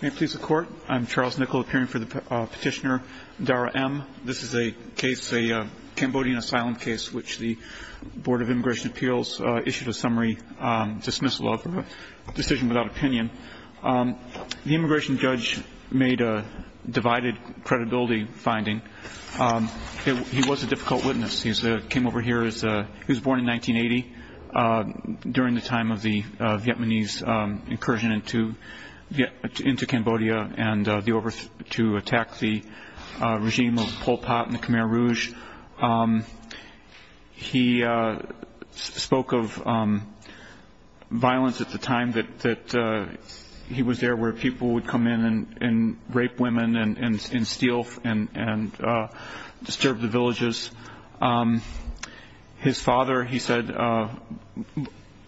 May it please the court, I'm Charles Nickel appearing for the petitioner, Dara Em. This is a case, a Cambodian asylum case, which the Board of Immigration Appeals issued a summary dismissal of, a decision without opinion. The immigration judge made a divided credibility finding. He was a difficult witness. He came over here, he was born in 1980, during the time of the Vietnamese incursion into Cambodia to attack the regime of Pol Pot and the Khmer Rouge. He spoke of violence at the time that he was there where people would come in and rape women and steal and disturb the villages. His father, he said,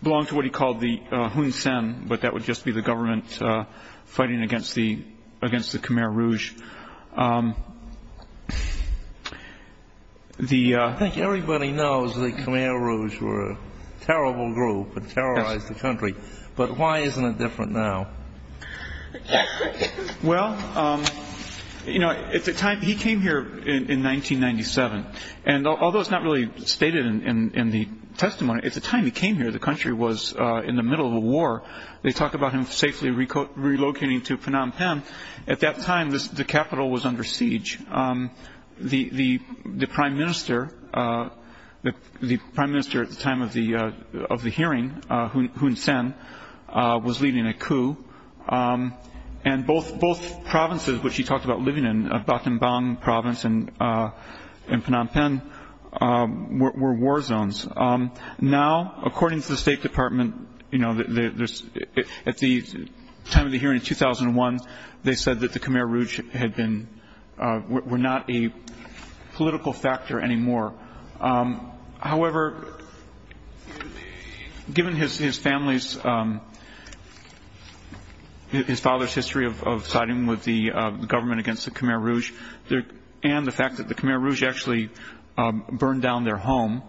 belonged to what he called the Hun Sen, but that would just be the government fighting against the Khmer Rouge. Everybody knows the Khmer Rouge were a terrible group that terrorized the country, but why isn't it different now? Well, you know, at the time he came here in 1997, and although it's not really stated in the testimony, at the time he came here the country was in the middle of a war. They talk about him safely relocating to Phnom Penh. At that time, the capital was under siege. The prime minister at the time of the hearing, Hun Sen, was leading a coup. And both provinces which he talked about living in, Battambang province and Phnom Penh, were war zones. Now, according to the State Department, at the time of the hearing in 2001, they said that the Khmer Rouge were not a political factor anymore. However, given his family's, his father's history of siding with the government against the Khmer Rouge, and the fact that the Khmer Rouge actually burned down their home.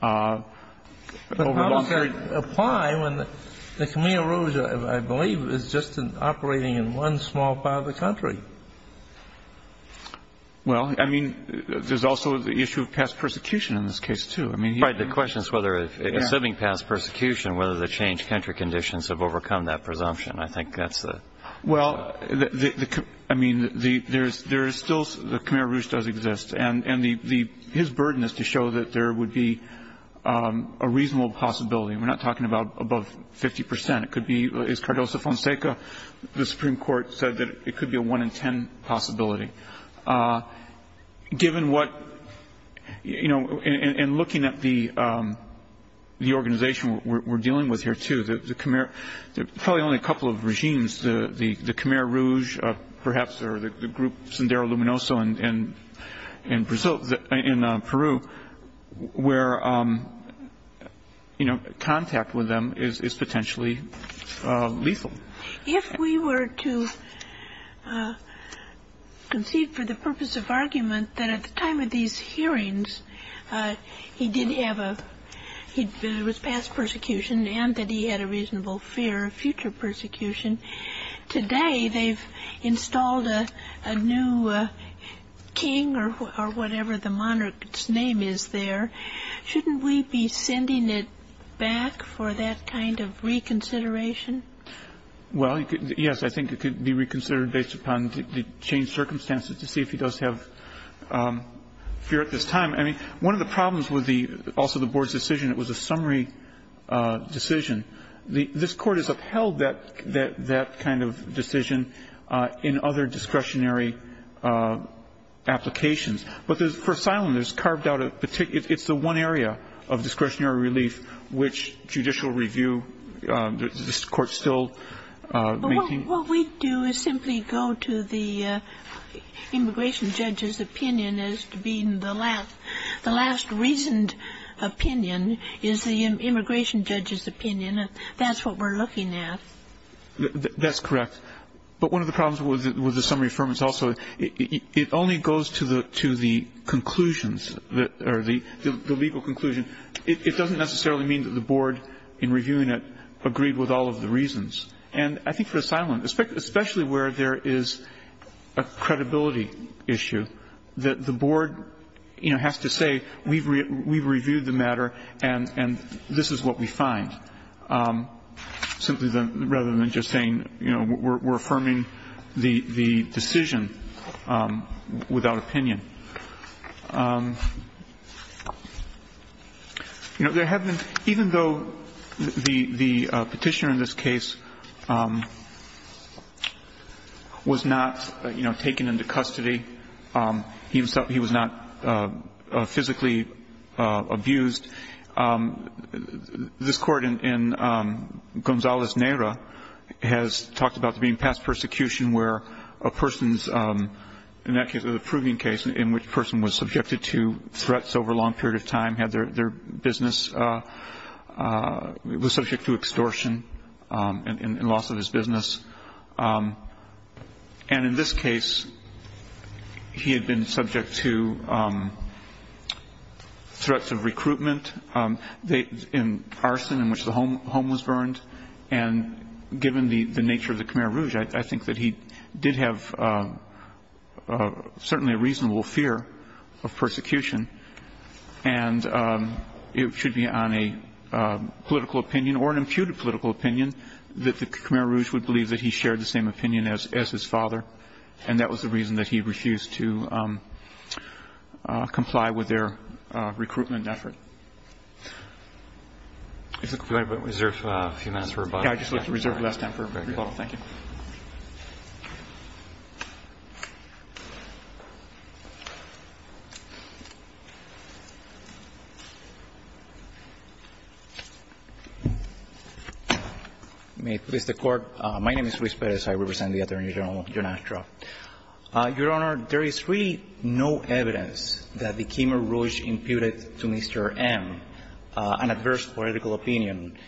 But how does that apply when the Khmer Rouge, I believe, is just operating in one small part of the country? Well, I mean, there's also the issue of past persecution in this case, too. Right. The question is whether, assuming past persecution, whether the changed country conditions have overcome that presumption. I think that's the... Well, I mean, there is still, the Khmer Rouge does exist. And his burden is to show that there would be a reasonable possibility. We're not talking about above 50 percent. It could be, as Cardoso Fonseca, the Supreme Court, said that it could be a 1 in 10 possibility. Given what, you know, and looking at the organization we're dealing with here, too, the Khmer, probably only a couple of regimes, the Khmer Rouge, perhaps, or the group Sindaro-Luminoso in Brazil, in Peru, where, you know, contact with them is potentially lethal. If we were to concede for the purpose of argument that at the time of these hearings, he did have a, there was past persecution, and that he had a reasonable fear of future persecution, today they've installed a new king or whatever the monarch's name is there. Shouldn't we be sending it back for that kind of reconsideration? Well, yes. I think it could be reconsidered based upon the changed circumstances to see if he does have fear at this time. One of the problems with the, also the Board's decision, it was a summary decision. This Court has upheld that kind of decision in other discretionary applications. But for asylum, there's carved out a particular, it's the one area of discretionary relief which judicial review, this Court still maintains. What we do is simply go to the immigration judge's opinion as being the last, the last reasoned opinion is the immigration judge's opinion, and that's what we're looking at. That's correct. But one of the problems with the summary affirmance also, it only goes to the conclusions, or the legal conclusion. It doesn't necessarily mean that the Board, in reviewing it, agreed with all of the reasons. And I think for asylum, especially where there is a credibility issue, that the Board has to say we've reviewed the matter and this is what we find. Simply rather than just saying we're affirming the decision without opinion. You know, there have been, even though the petitioner in this case was not, you know, taken into custody, he was not physically abused, this Court in Gonzales-Neira has talked about there being past persecution where a person's, in that case a proving case in which a person was subjected to threats over a long period of time, had their business, was subject to extortion and loss of his business. And in this case, he had been subject to threats of recruitment, in arson in which the home was burned. And given the nature of the Khmer Rouge, I think that he did have certainly a reasonable fear of persecution. And it should be on a political opinion, or an imputed political opinion, that the Khmer Rouge would believe that he shared the same opinion as his father. And that was the reason that he refused to comply with their recruitment effort. If the Court would reserve a few minutes for rebuttal. Yeah, I just would like to reserve the last time for rebuttal. Thank you. May it please the Court. My name is Luis Perez. I represent the Attorney General, Your Honor. Your Honor, there is really no evidence that the Khmer Rouge imputed to Mr. M an adverse political opinion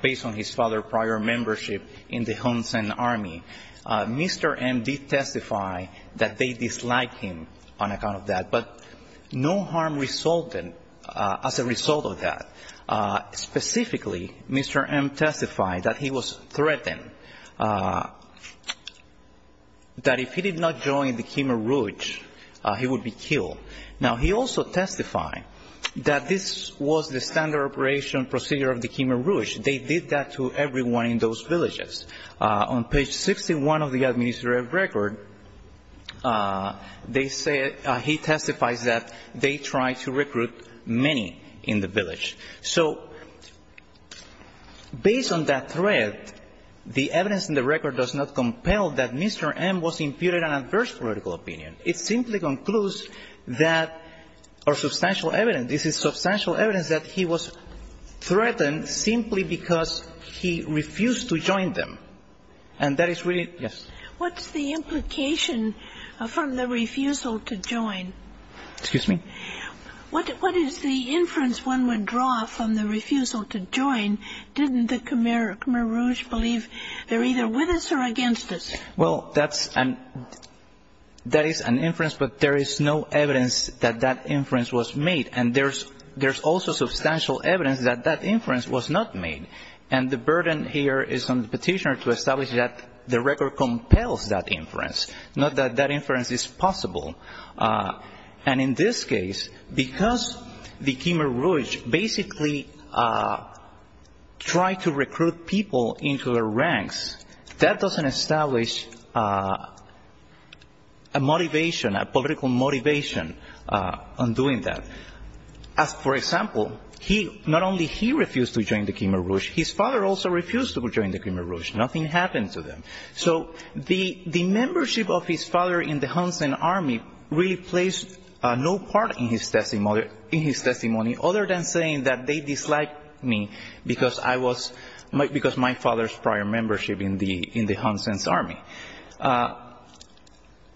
based on his father's prior membership in the Hun Sen Army. Mr. M did testify that they disliked him on account of that. But no harm resulted as a result of that. Specifically, Mr. M testified that he was threatened. That if he did not join the Khmer Rouge, he would be killed. Now, he also testified that this was the standard operation procedure of the Khmer Rouge. They did that to everyone in those villages. On page 61 of the administrative record, he testifies that they tried to recruit many in the village. So based on that threat, the evidence in the record does not compel that Mr. M was imputed an adverse political opinion. It simply concludes that or substantial evidence. This is substantial evidence that he was threatened simply because he refused to join them. And that is really yes. What's the implication from the refusal to join? Excuse me? What is the inference one would draw from the refusal to join? Didn't the Khmer Rouge believe they're either with us or against us? Well, that is an inference, but there is no evidence that that inference was made. And there's also substantial evidence that that inference was not made. And the burden here is on the petitioner to establish that the record compels that inference, not that that inference is possible. And in this case, because the Khmer Rouge basically tried to recruit people into their ranks, that doesn't establish a motivation, a political motivation on doing that. For example, not only he refused to join the Khmer Rouge, his father also refused to join the Khmer Rouge. Nothing happened to them. So the membership of his father in the Hun Sen army really plays no part in his testimony, other than saying that they disliked me because my father's prior membership in the Hun Sen's army.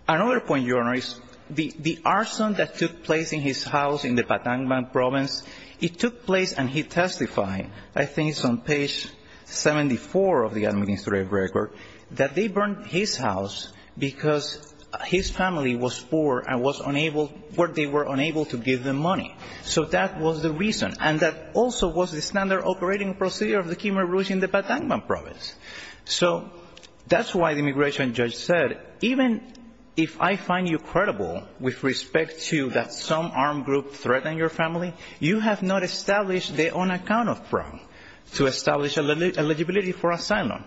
Another point, Your Honor, is the arson that took place in his house in the Patangan province, it took place and he testified, I think it's on page 74 of the administrative record, that they burned his house because his family was poor and they were unable to give them money. So that was the reason. And that also was the standard operating procedure of the Khmer Rouge in the Patangan province. So that's why the immigration judge said, even if I find you credible with respect to that some armed group threatened your family, you have not established the on-account of problem to establish eligibility for asylum.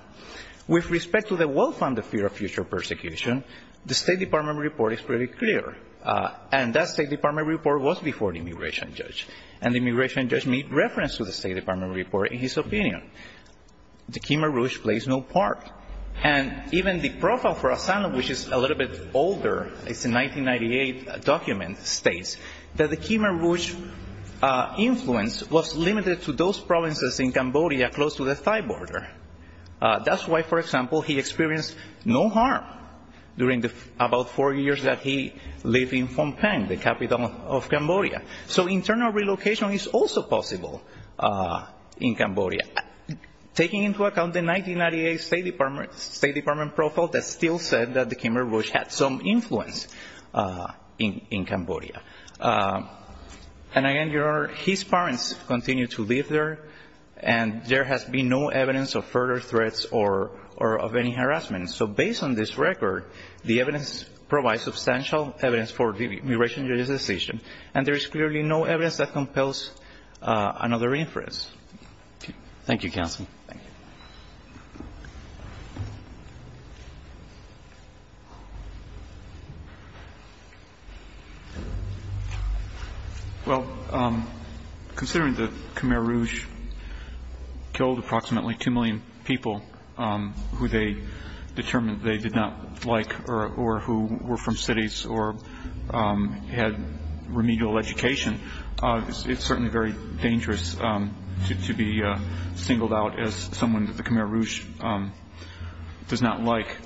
With respect to the well-founded fear of future persecution, the State Department report is pretty clear. And that State Department report was before the immigration judge. And the immigration judge made reference to the State Department report in his opinion. The Khmer Rouge plays no part. And even the profile for asylum, which is a little bit older, it's a 1998 document, states that the Khmer Rouge influence was limited to those provinces in Cambodia close to the Thai border. That's why, for example, he experienced no harm during the about four years that he lived in Phnom Penh, the capital of Cambodia. Taking into account the 1998 State Department profile, that still said that the Khmer Rouge had some influence in Cambodia. And again, Your Honor, his parents continued to live there. And there has been no evidence of further threats or of any harassment. So based on this record, the evidence provides substantial evidence for the immigration judge's decision. And there is clearly no evidence that compels another inference. Thank you, counsel. Well, considering the Khmer Rouge killed approximately 2 million people who they determined they did not like or who were from cities or had remedial education, it's certainly very dangerous to be singled out as someone that the Khmer Rouge does not like.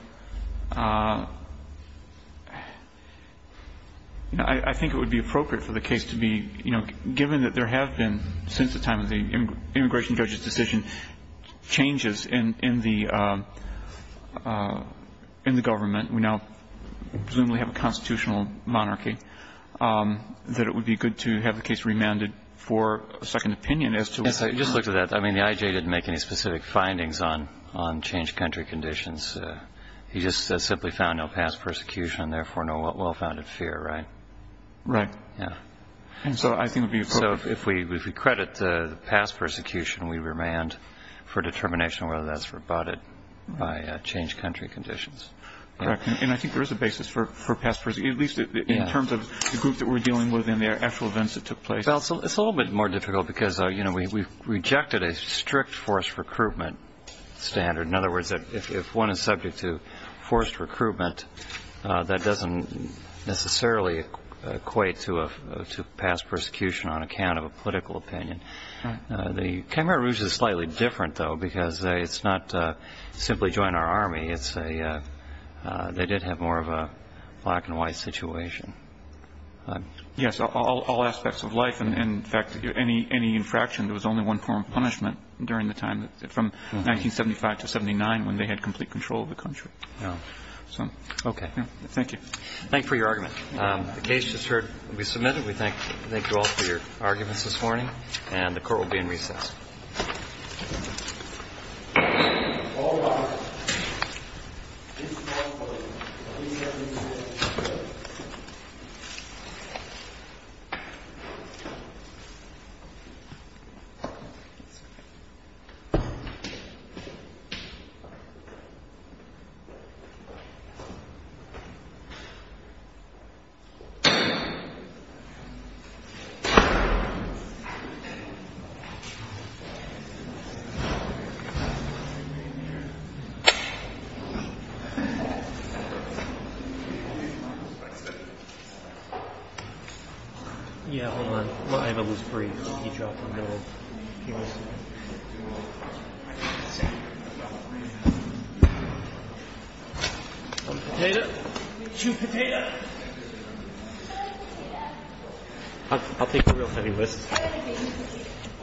I think it would be appropriate for the case to be, you know, given that there have been since the time of the immigration judge's decision, changes in the government, we now presumably have a constitutional monarchy, that it would be good to have the case remanded for a second opinion as to... Yes, I just looked at that. I mean, the IJ didn't make any specific findings on changed country conditions. He just simply found no past persecution and therefore no well-founded fear, right? Right. Yeah. And so I think it would be appropriate... So if we credit the past persecution, we remand for determination whether that's rebutted by changed country conditions. Correct. And I think there is a basis for past persecution. At least in terms of the group that we're dealing with and the actual events that took place. Well, it's a little bit more difficult because, you know, we rejected a strict forced recruitment standard. In other words, if one is subject to forced recruitment, that doesn't necessarily equate to past persecution on account of a political opinion. The Khmer Rouge is slightly different, though, because it's not simply join our army. It's a... They did have more of a black and white situation. Yes. All aspects of life. And, in fact, any infraction, there was only one form of punishment during the time from 1975 to 1979 when they had complete control of the country. Yeah. So... Okay. Thank you. Thank you for your argument. The case just heard be submitted. We thank you all for your arguments this morning. And the court will be in recess. All rise. This court will be in recess. Thank you. Thank you.